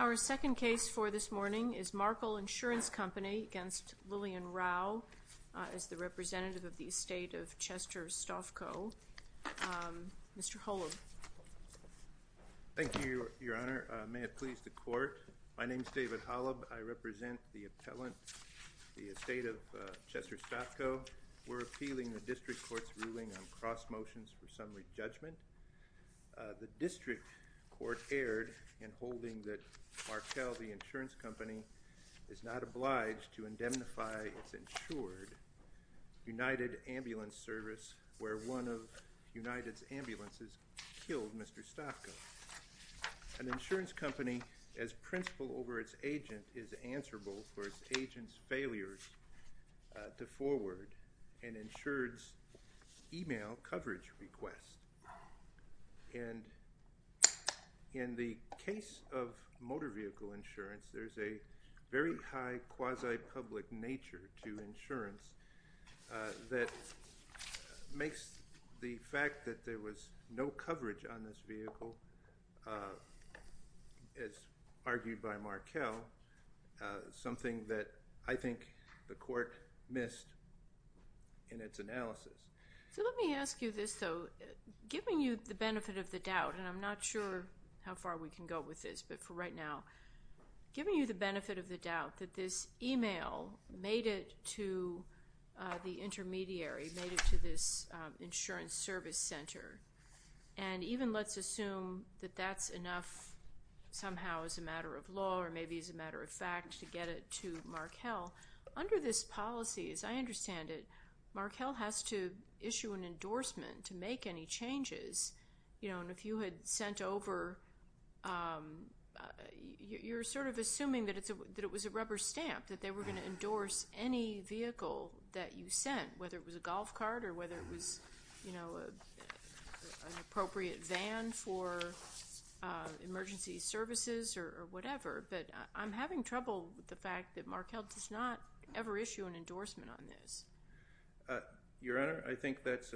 Our second case for this morning is Markle Insurance Company v. Lillian Rau as the representative of the estate of Chester Stofco. Mr. Holub. Thank you, Your Honor. May it please the Court. My name is David Holub. I represent the appellant, the estate of Chester Stofco. We're appealing the District Court's ruling on cross motions for summary judgment. The District Court erred in holding that Markle, the insurance company, is not obliged to indemnify its insured United Ambulance Service where one of United's ambulances killed Mr. Stofco. An insurance company, as principal over its agent, is answerable for its agent's failures to forward an insured's email coverage request. And in the case of motor vehicle insurance, there's a very high quasi-public nature to insurance that makes the fact that there was no coverage on this vehicle, as argued by Markle, something that I think the Court missed in its analysis. So let me ask you this, though. Giving you the benefit of the doubt, and I'm not sure how far we can go with this, but for right now, giving you the benefit of the doubt that this email made it to the intermediary, made it to this insurance service center, and even let's assume that that's enough somehow as a matter of law or maybe as a matter of fact to get it to Markle, under this policy, as I understand it, Markle has to issue an endorsement to make any changes. And if you had sent over, you're sort of assuming that it was a rubber stamp, that they were going to endorse any vehicle that you sent, whether it was a golf cart or whether it was an appropriate van for emergency services or whatever. But I'm having trouble with the fact that Markle does not ever issue an endorsement on this. Your Honor, I think that's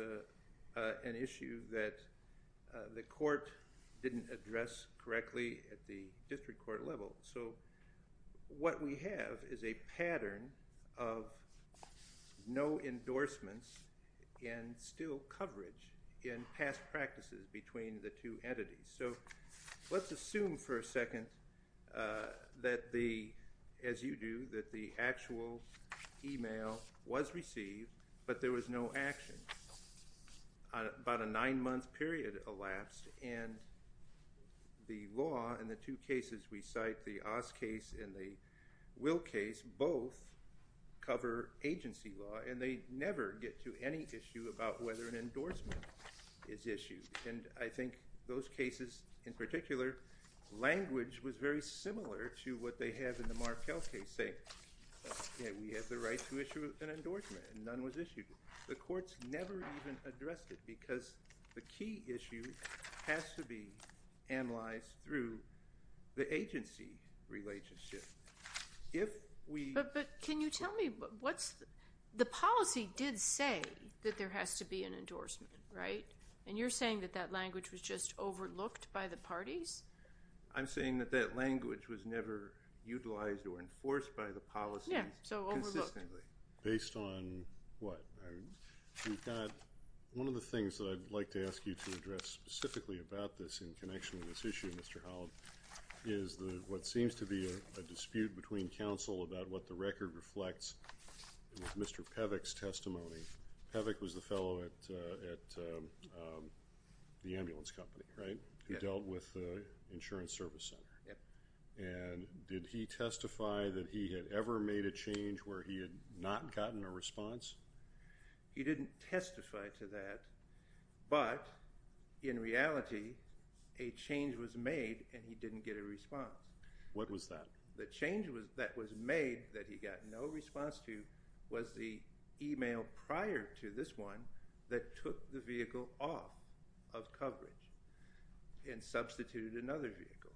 an issue that the Court didn't address correctly at the district court level. So what we have is a pattern of no endorsements and still coverage in past practices between the two entities. So let's assume for a second that the, as you do, that the actual email was received, but there was no action. About a nine-month period elapsed, and the law in the two cases we cite, the Oz case and the Will case, both cover agency law, and they never get to any issue about whether an endorsement is issued. And I think those cases in particular, language was very similar to what they have in the Markle case, saying we have the right to issue an endorsement, and none was issued. The Court's never even addressed it because the key issue has to be analyzed through the agency relationship. If we – But can you tell me what's – the policy did say that there has to be an endorsement, right? And you're saying that that language was just overlooked by the parties? I'm saying that that language was never utilized or enforced by the policy consistently. Yeah, so overlooked. Consistently. Based on what? We've got – one of the things that I'd like to ask you to address specifically about this in connection with this issue, Mr. Holland, is what seems to be a dispute between counsel about what the record reflects with Mr. Pevick's testimony. Pevick was the fellow at the ambulance company, right, who dealt with the insurance service center. And did he testify that he had ever made a change where he had not gotten a response? He didn't testify to that, but in reality, a change was made and he didn't get a response. What was that? The change that was made that he got no response to was the email prior to this one that took the vehicle off of coverage and substituted another vehicle.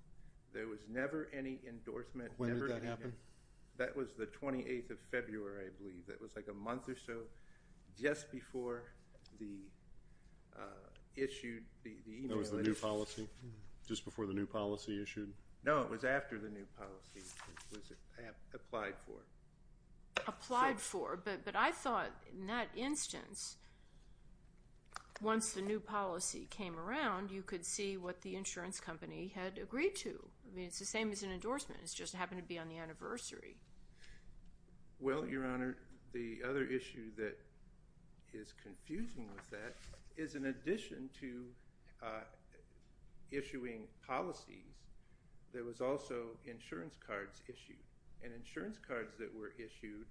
There was never any endorsement. When did that happen? That was the 28th of February, I believe. That was like a month or so just before the issue, the email. That was the new policy? Just before the new policy issued? No, it was after the new policy was applied for. But I thought in that instance, once the new policy came around, you could see what the insurance company had agreed to. I mean, it's the same as an endorsement. It just happened to be on the anniversary. Well, Your Honor, the other issue that is confusing with that is in addition to issuing policies, there was also insurance cards issued. And insurance cards that were issued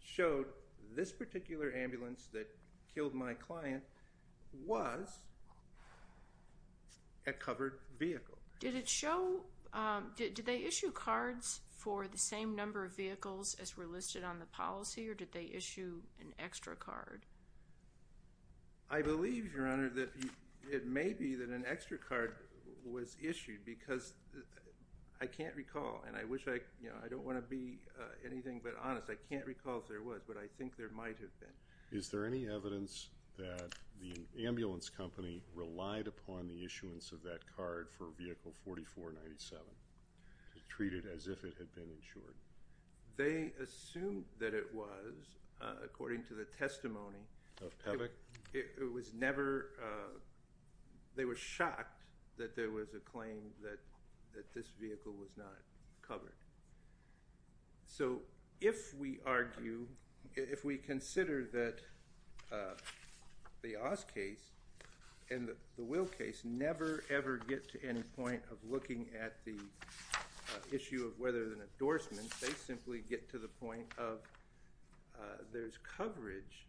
showed this particular ambulance that killed my client was a covered vehicle. Did they issue cards for the same number of vehicles as were listed on the policy, or did they issue an extra card? I believe, Your Honor, that it may be that an extra card was issued because I can't recall, and I wish I, you know, I don't want to be anything but honest. I can't recall if there was, but I think there might have been. Is there any evidence that the ambulance company relied upon the issuance of that card for vehicle 4497, treated as if it had been insured? They assumed that it was, according to the testimony. Of Tavik? It was never. They were shocked that there was a claim that this vehicle was not covered. So if we argue, if we consider that the Oz case and the Will case never, ever get to any point of looking at the issue of whether there's an endorsement, they simply get to the point of there's coverage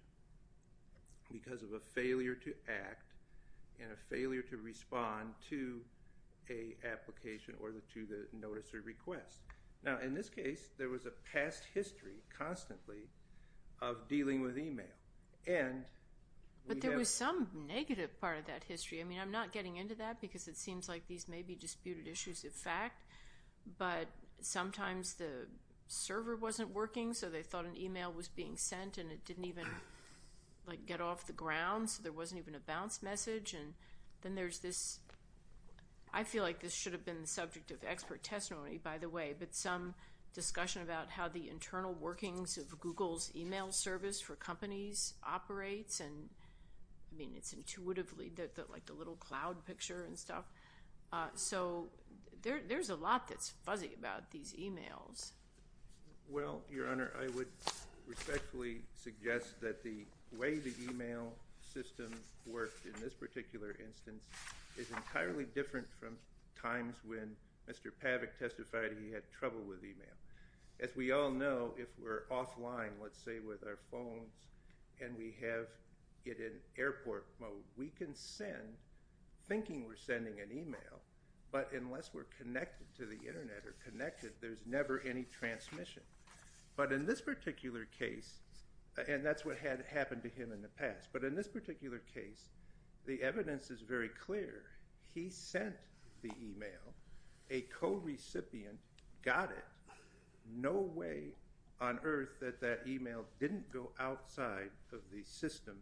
because of a failure to act and a failure to respond to an application or to the notice or request. Now, in this case, there was a past history constantly of dealing with email. But there was some negative part of that history. I mean, I'm not getting into that because it seems like these may be disputed issues of fact, but sometimes the server wasn't working, so they thought an email was being sent, and it didn't even, like, get off the ground, so there wasn't even a bounce message. And then there's this. I feel like this should have been the subject of expert testimony, by the way, but some discussion about how the internal workings of Google's email service for companies operates. And, I mean, it's intuitively like the little cloud picture and stuff. So there's a lot that's fuzzy about these emails. Well, Your Honor, I would respectfully suggest that the way the email system works in this particular instance is entirely different from times when Mr. Pavick testified he had trouble with email. As we all know, if we're offline, let's say with our phones, and we have it in airport mode, we can send, thinking we're sending an email, but unless we're connected to the Internet or connected, there's never any transmission. But in this particular case, and that's what had happened to him in the past, but in this particular case, the evidence is very clear. He sent the email. A co-recipient got it. No way on earth that that email didn't go outside of the system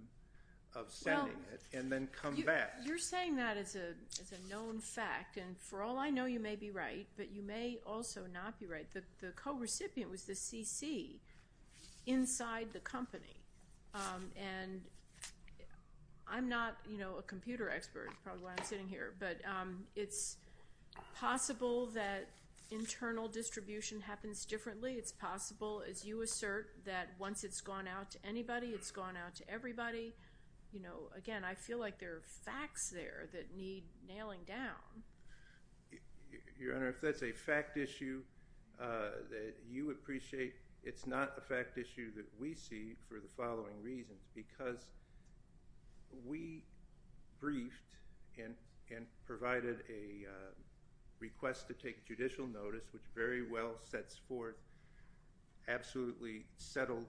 of sending it and then come back. Well, you're saying that as a known fact, and for all I know, you may be right, but you may also not be right. The co-recipient was the CC inside the company. And I'm not a computer expert, is probably why I'm sitting here, but it's possible that internal distribution happens differently. It's possible, as you assert, that once it's gone out to anybody, it's gone out to everybody. Again, I feel like there are facts there that need nailing down. Your Honor, if that's a fact issue that you appreciate, it's not a fact issue that we see for the following reasons. Because we briefed and provided a request to take judicial notice, which very well sets forth absolutely settled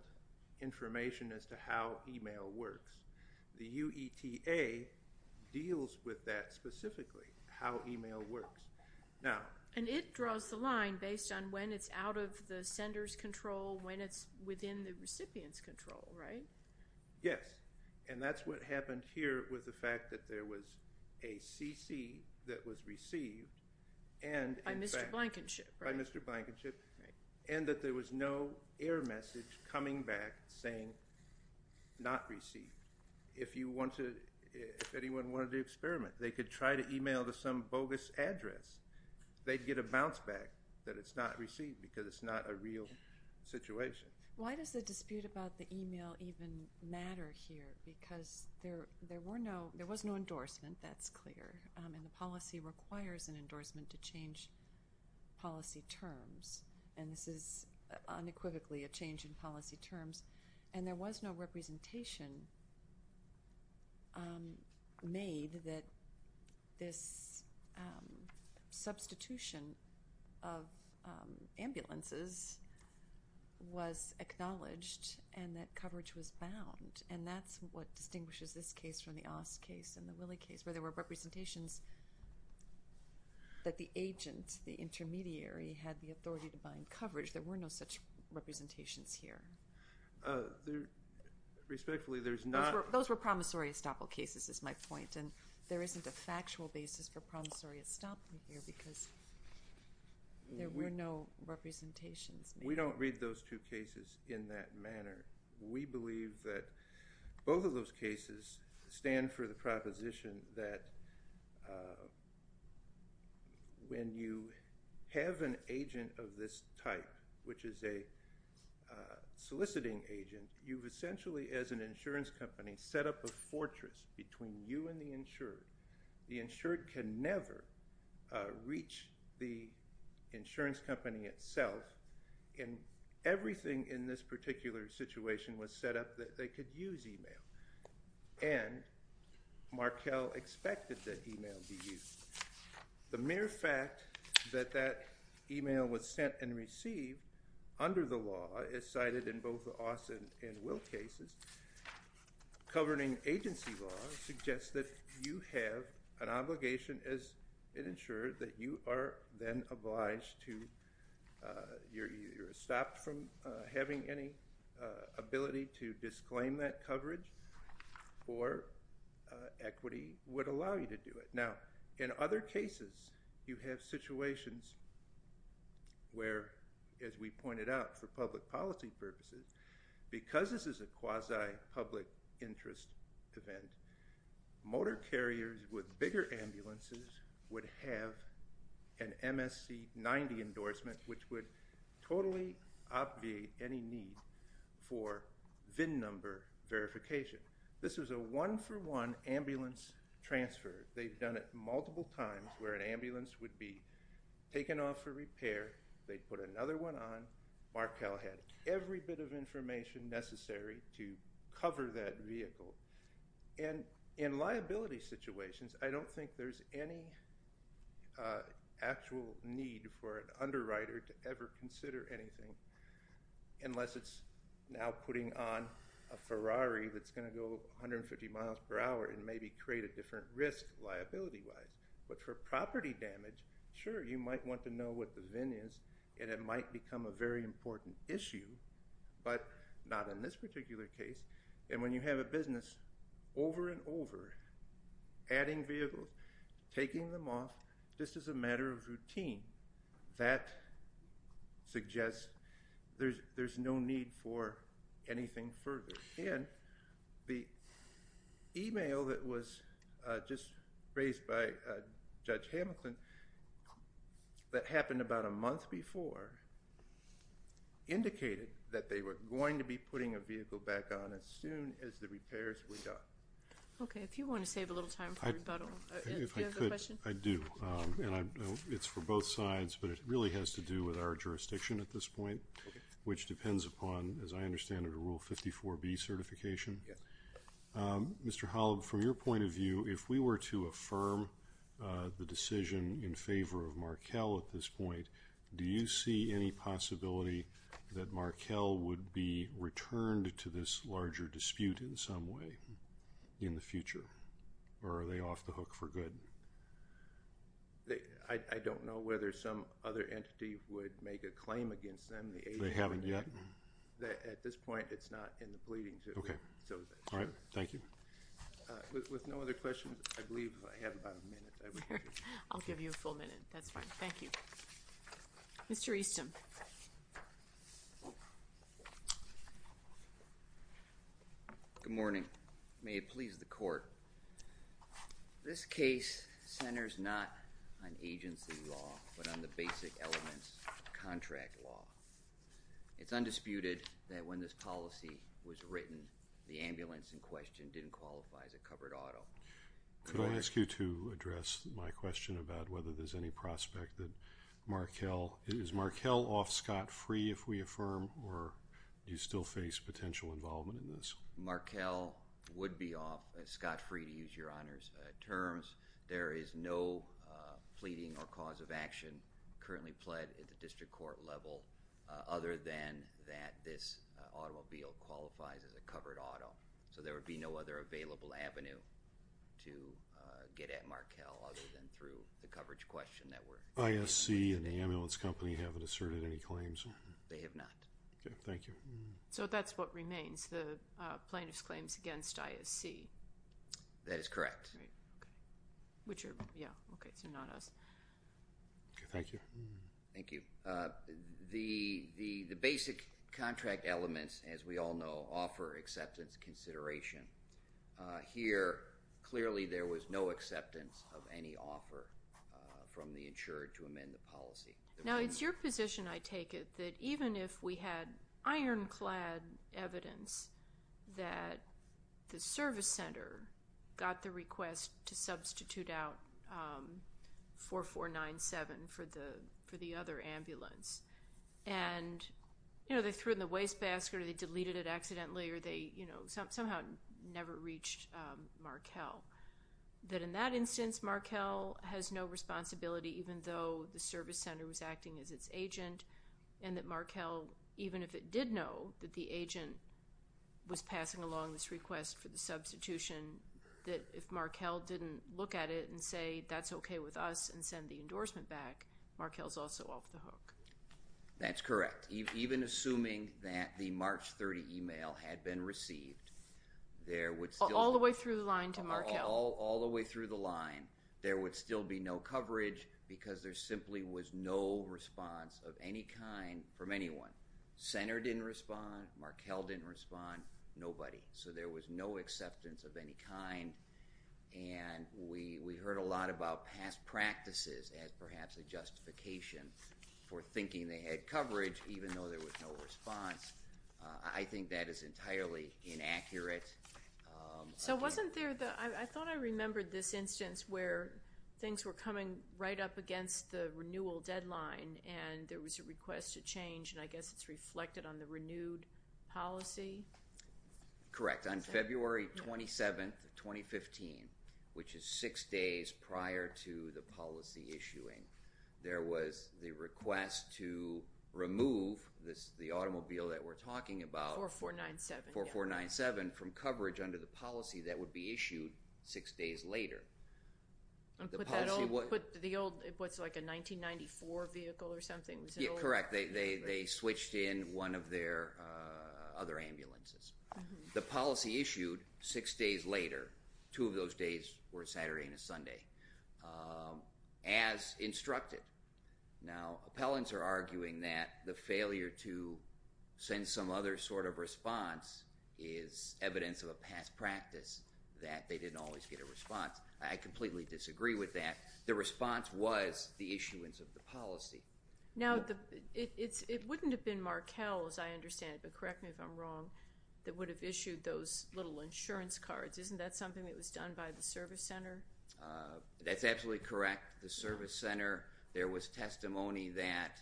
information as to how email works. The UETA deals with that specifically, how email works. And it draws the line based on when it's out of the sender's control, when it's within the recipient's control, right? Yes, and that's what happened here with the fact that there was a CC that was received. By Mr. Blankenship. By Mr. Blankenship, and that there was no error message coming back saying not received. If anyone wanted to experiment, they could try to email to some bogus address. They'd get a bounce back that it's not received because it's not a real situation. Why does the dispute about the email even matter here? Because there was no endorsement, that's clear, and the policy requires an endorsement to change policy terms. And this is unequivocally a change in policy terms. And there was no representation made that this substitution of ambulances was acknowledged and that coverage was bound. And that's what distinguishes this case from the Ost case and the Willey case, where there were representations that the agent, the intermediary, had the authority to bind coverage. There were no such representations here. Respectfully, there's not. Those were promissory estoppel cases, is my point, and there isn't a factual basis for promissory estoppel here because there were no representations made. We don't read those two cases in that manner. We believe that both of those cases stand for the proposition that when you have an agent of this type, which is a soliciting agent, you've essentially, as an insurance company, set up a fortress between you and the insured. The insured can never reach the insurance company itself. Everything in this particular situation was set up that they could use e-mail, and Markell expected that e-mail be used. The mere fact that that e-mail was sent and received under the law is cited in both the Austin and Will cases. Governing agency law suggests that you have an obligation as an insured that you are then obliged to, you're stopped from having any ability to disclaim that coverage, or equity would allow you to do it. Now, in other cases, you have situations where, as we pointed out, for public policy purposes, because this is a quasi-public interest event, motor carriers with bigger ambulances would have an MSC 90 endorsement, which would totally obviate any need for VIN number verification. This was a one-for-one ambulance transfer. They've done it multiple times where an ambulance would be taken off for repair, they'd put another one on, Markell had every bit of information necessary to cover that vehicle. And in liability situations, I don't think there's any actual need for an underwriter to ever consider anything, unless it's now putting on a Ferrari that's going to go 150 miles per hour and maybe create a different risk liability-wise. But for property damage, sure, you might want to know what the VIN is, and it might become a very important issue, but not in this particular case. And when you have a business over and over adding vehicles, taking them off, just as a matter of routine, that suggests there's no need for anything further. And the e-mail that was just raised by Judge Hamilton that happened about a month before indicated that they were going to be putting a vehicle back on as soon as the repairs were done. Okay, if you want to save a little time for rebuttal, do you have a question? If I could, I do. And it's for both sides, but it really has to do with our jurisdiction at this point, which depends upon, as I understand it, a Rule 54B certification. Yes. Mr. Holub, from your point of view, if we were to affirm the decision in favor of Markell at this point, do you see any possibility that Markell would be returned to this larger dispute in some way in the future, or are they off the hook for good? I don't know whether some other entity would make a claim against them. They haven't yet? At this point, it's not in the pleadings. Okay. All right. Thank you. With no other questions, I believe I have about a minute. I'll give you a full minute. That's fine. Thank you. Mr. Easton. Good morning. May it please the Court. This case centers not on agency law, but on the basic elements of contract law. It's undisputed that when this policy was written, the ambulance in question didn't qualify as a covered auto. Could I ask you to address my question about whether there's any prospect that Markell, is Markell off scot-free if we affirm, or do you still face potential involvement in this? Markell would be off scot-free, to use Your Honor's terms. There is no pleading or cause of action currently pled at the district court level, other than that this automobile qualifies as a covered auto. So there would be no other available avenue to get at Markell, other than through the coverage question that we're... ISC and the ambulance company haven't asserted any claims? They have not. Okay. Thank you. So that's what remains, the plaintiff's claims against ISC. That is correct. Which are, yeah, okay, so not us. Thank you. Thank you. The basic contract elements, as we all know, offer acceptance consideration. Here, clearly there was no acceptance of any offer from the insurer to amend the policy. Now, it's your position, I take it, that even if we had ironclad evidence that the service center got the request to substitute out 4497 for the other ambulance, and, you know, they threw it in the wastebasket or they deleted it accidentally or they, you know, somehow never reached Markell, that in that instance Markell has no responsibility, even though the service center was acting as its agent, and that Markell, even if it did know that the agent was passing along this request for the substitution, that if Markell didn't look at it and say, that's okay with us and send the endorsement back, Markell's also off the hook. That's correct. Even assuming that the March 30 email had been received, there would still... All the way through the line, there would still be no coverage because there simply was no response of any kind from anyone. Center didn't respond, Markell didn't respond, nobody. So there was no acceptance of any kind, and we heard a lot about past practices as perhaps a justification for thinking they had coverage, even though there was no response. I think that is entirely inaccurate. So wasn't there the... I thought I remembered this instance where things were coming right up against the renewal deadline and there was a request to change, and I guess it's reflected on the renewed policy? Correct. On February 27, 2015, which is six days prior to the policy issuing, there was the request to remove the automobile that we're talking about... 4497.... 4497 from coverage under the policy that would be issued six days later. And put that old... put the old... what's it like a 1994 vehicle or something? Yeah, correct. They switched in one of their other ambulances. The policy issued six days later, two of those days were Saturday and a Sunday, as instructed. Now, appellants are arguing that the failure to send some other sort of response is evidence of a past practice, that they didn't always get a response. I completely disagree with that. The response was the issuance of the policy. Now, it wouldn't have been Markell, as I understand it, but correct me if I'm wrong, that would have issued those little insurance cards. Isn't that something that was done by the service center? That's absolutely correct. The service center, there was testimony that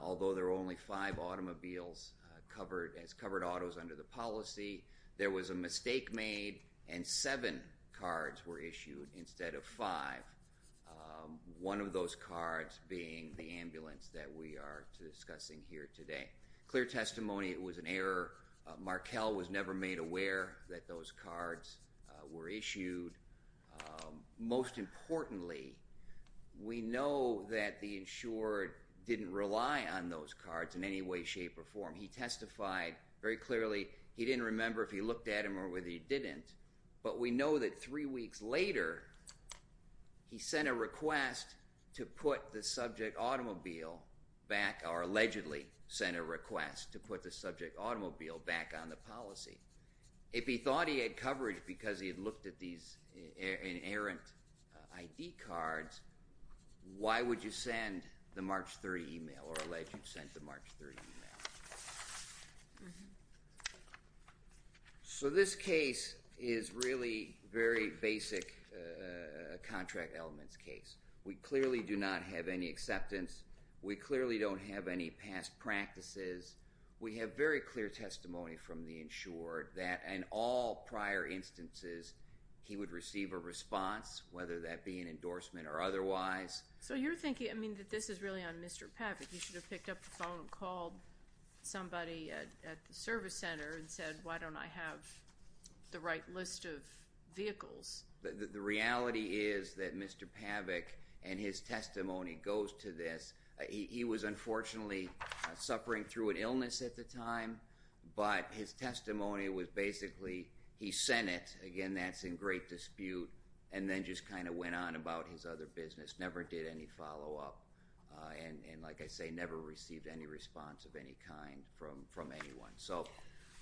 although there were only five automobiles as covered autos under the policy, there was a mistake made and seven cards were issued instead of five. One of those cards being the ambulance that we are discussing here today. Clear testimony it was an error. Markell was never made aware that those cards were issued. Most importantly, we know that the insurer didn't rely on those cards in any way, shape, or form. He testified very clearly. He didn't remember if he looked at them or whether he didn't, but we know that three weeks later he sent a request to put the subject automobile back, or allegedly sent a request to put the subject automobile back on the policy. If he thought he had coverage because he had looked at these inerrant ID cards, why would you send the March 30 email or allegedly send the March 30 email? So this case is really very basic contract elements case. We clearly do not have any acceptance. We clearly don't have any past practices. We have very clear testimony from the insurer that in all prior instances he would receive a response, whether that be an endorsement or otherwise. So you're thinking, I mean, that this is really on Mr. Pavick. He should have picked up the phone and called somebody at the service center and said, why don't I have the right list of vehicles? The reality is that Mr. Pavick and his testimony goes to this. He was, unfortunately, suffering through an illness at the time, but his testimony was basically he sent it. Again, that's in great dispute, and then just kind of went on about his other business, never did any follow-up, and like I say, never received any response of any kind from anyone. So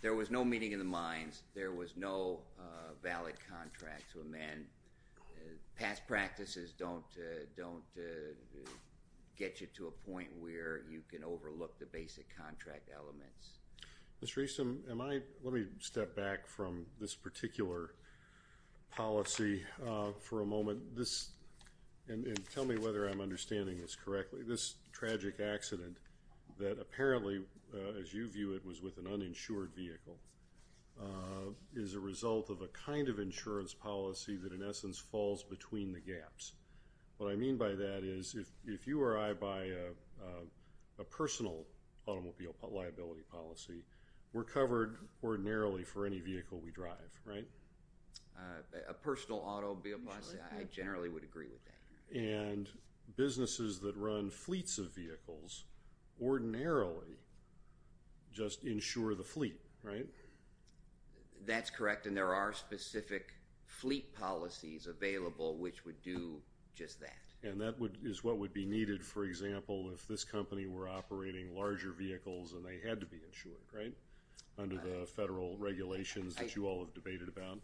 there was no meeting in the minds. There was no valid contract to amend. Past practices don't get you to a point where you can overlook the basic contract elements. Mr. Easton, let me step back from this particular policy for a moment. And tell me whether I'm understanding this correctly. This tragic accident that apparently, as you view it, was with an uninsured vehicle, is a result of a kind of insurance policy that, in essence, falls between the gaps. What I mean by that is if you or I buy a personal automobile liability policy, we're covered ordinarily for any vehicle we drive, right? A personal automobile policy, I generally would agree with that. And businesses that run fleets of vehicles ordinarily just insure the fleet, right? That's correct, and there are specific fleet policies available which would do just that. And that is what would be needed, for example, if this company were operating larger vehicles and they had to be insured, right, under the federal regulations that you all have debated about?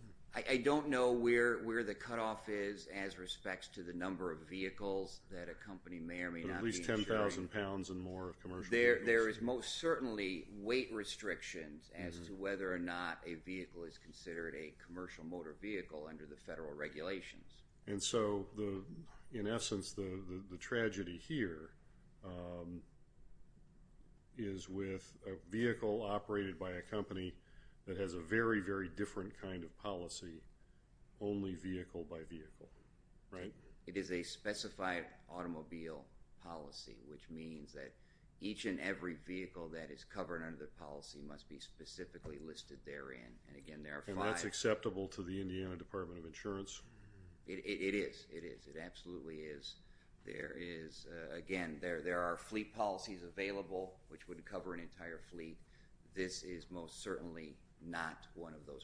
I don't know where the cutoff is as respects to the number of vehicles that a company may or may not be insuring. At least 10,000 pounds or more of commercial vehicles. There is most certainly weight restrictions as to whether or not a vehicle is considered a commercial motor vehicle under the federal regulations. And so, in essence, the tragedy here is with a vehicle operated by a company that has a very, very different kind of policy, only vehicle by vehicle, right? It is a specified automobile policy, which means that each and every vehicle that is covered under the policy must be specifically listed therein. And again, there are five. And that's acceptable to the Indiana Department of Insurance? It is. It is. It absolutely is. There is, again, there are fleet policies available which would cover an entire fleet. This is most certainly not one of those policies.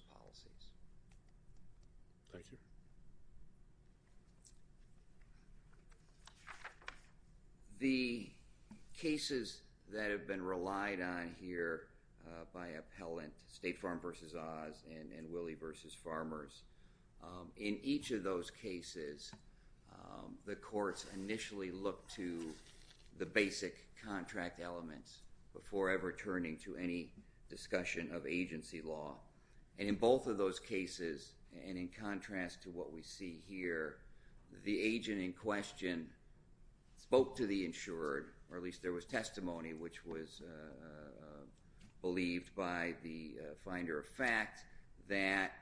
Thank you. The cases that have been relied on here by appellant State Farm v. Oz and Willie v. Farmers, in each of those cases, the courts initially look to the basic contract elements before ever turning to any discussion of agency law. And in both of those cases, and in contrast to what we see here, the agent in question spoke to the insured, or at least there was testimony which was believed by the finder of fact that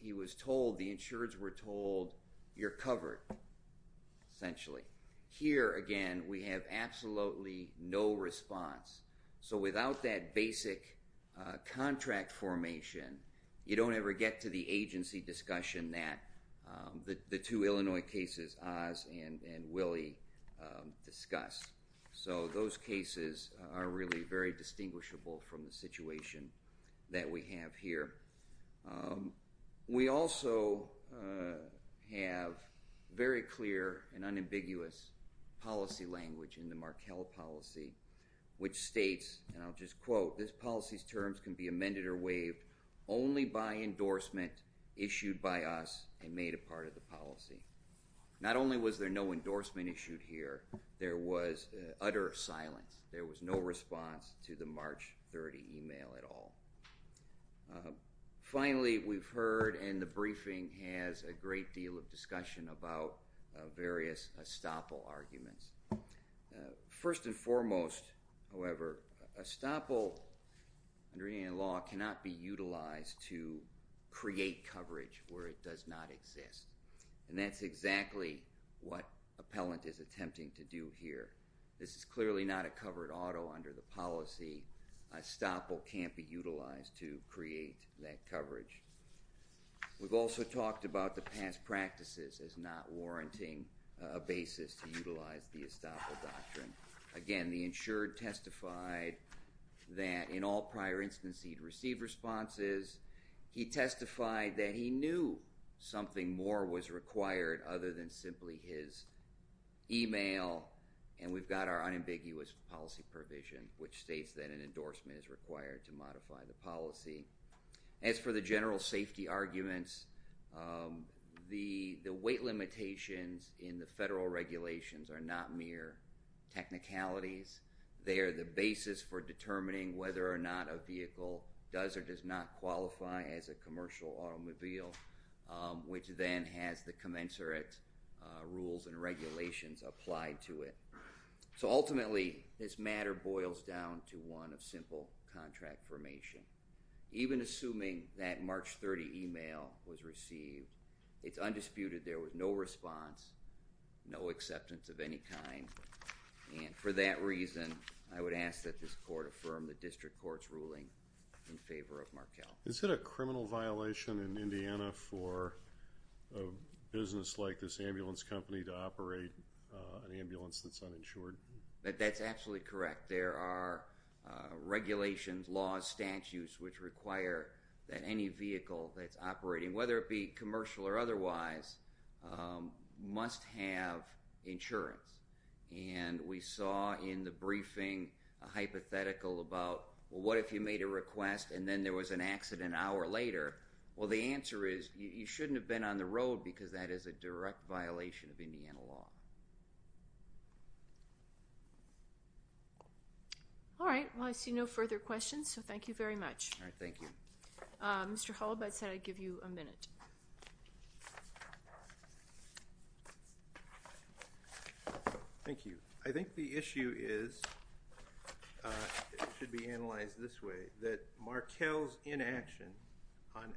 he was told, the insureds were told, you're covered, essentially. Here, again, we have absolutely no response. So without that basic contract formation, you don't ever get to the agency discussion that the two Illinois cases, Oz and Willie, discuss. So those cases are really very distinguishable from the situation that we have here. We also have very clear and unambiguous policy language in the Markell policy which states, and I'll just quote, this policy's terms can be amended or waived only by endorsement issued by us and made a part of the policy. Not only was there no endorsement issued here, there was utter silence. There was no response to the March 30 email at all. Finally, we've heard, and the briefing has a great deal of discussion about various estoppel arguments. First and foremost, however, estoppel under Indian law cannot be utilized to create coverage where it does not exist, and that's exactly what appellant is attempting to do here. This is clearly not a covered auto under the policy. Estoppel can't be utilized to create that coverage. We've also talked about the past practices as not warranting a basis to utilize the estoppel doctrine. Again, the insured testified that in all prior instances he'd received responses. He testified that he knew something more was required other than simply his email, and we've got our unambiguous policy provision, which states that an endorsement is required to modify the policy. As for the general safety arguments, the weight limitations in the federal regulations are not mere technicalities. They are the basis for determining whether or not a vehicle does or does not qualify as a commercial automobile, which then has the commensurate rules and regulations applied to it. So ultimately, this matter boils down to one of simple contract formation. Even assuming that March 30 email was received, it's undisputed there was no response, no acceptance of any kind, and for that reason, I would ask that this court affirm the district court's ruling in favor of Markell. Is it a criminal violation in Indiana for a business like this ambulance company to operate an ambulance that's uninsured? That's absolutely correct. There are regulations, laws, statutes, which require that any vehicle that's operating, whether it be commercial or otherwise, must have insurance. And we saw in the briefing a hypothetical about, well, what if you made a request and then there was an accident an hour later? Well, the answer is you shouldn't have been on the road because that is a direct violation of Indiana law. All right. Well, I see no further questions, so thank you very much. All right. Thank you. Mr. Holub, I said I'd give you a minute. Thank you. I think the issue is, it should be analyzed this way, that Markell's inaction on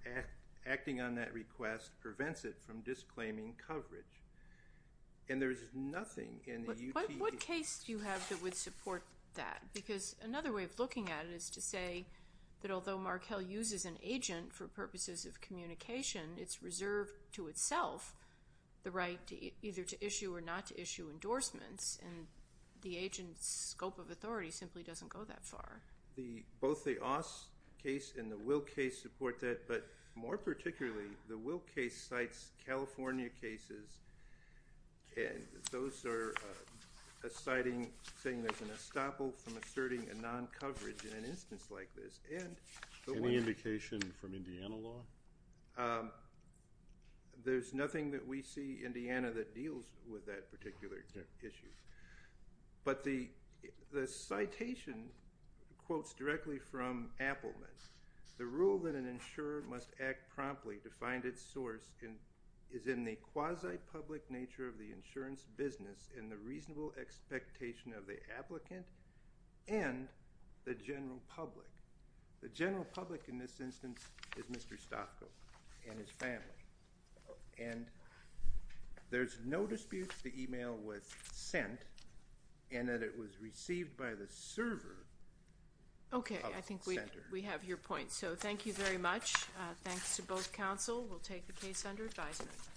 acting on that request prevents it from disclaiming coverage, and there's nothing in the UTE. What case do you have that would support that? Because another way of looking at it is to say that although Markell uses an agent for purposes of communication, it's reserved to itself the right either to issue or not to issue endorsements, and the agent's scope of authority simply doesn't go that far. Both the Aus case and the Will case support that, but more particularly the Will case cites California cases, and those are citing saying there's an estoppel from asserting a non-coverage in an instance like this. Any indication from Indiana law? There's nothing that we see, Indiana, that deals with that particular issue. But the citation quotes directly from Appelman, the rule that an insurer must act promptly to find its source is in the quasi-public nature of the insurance business and the reasonable expectation of the applicant and the general public. The general public in this instance is Mr. Stofko and his family, and there's no dispute the email was sent and that it was received by the server of the center. Okay, I think we have your point. So thank you very much. Thanks to both counsel. We'll take the case under advisement.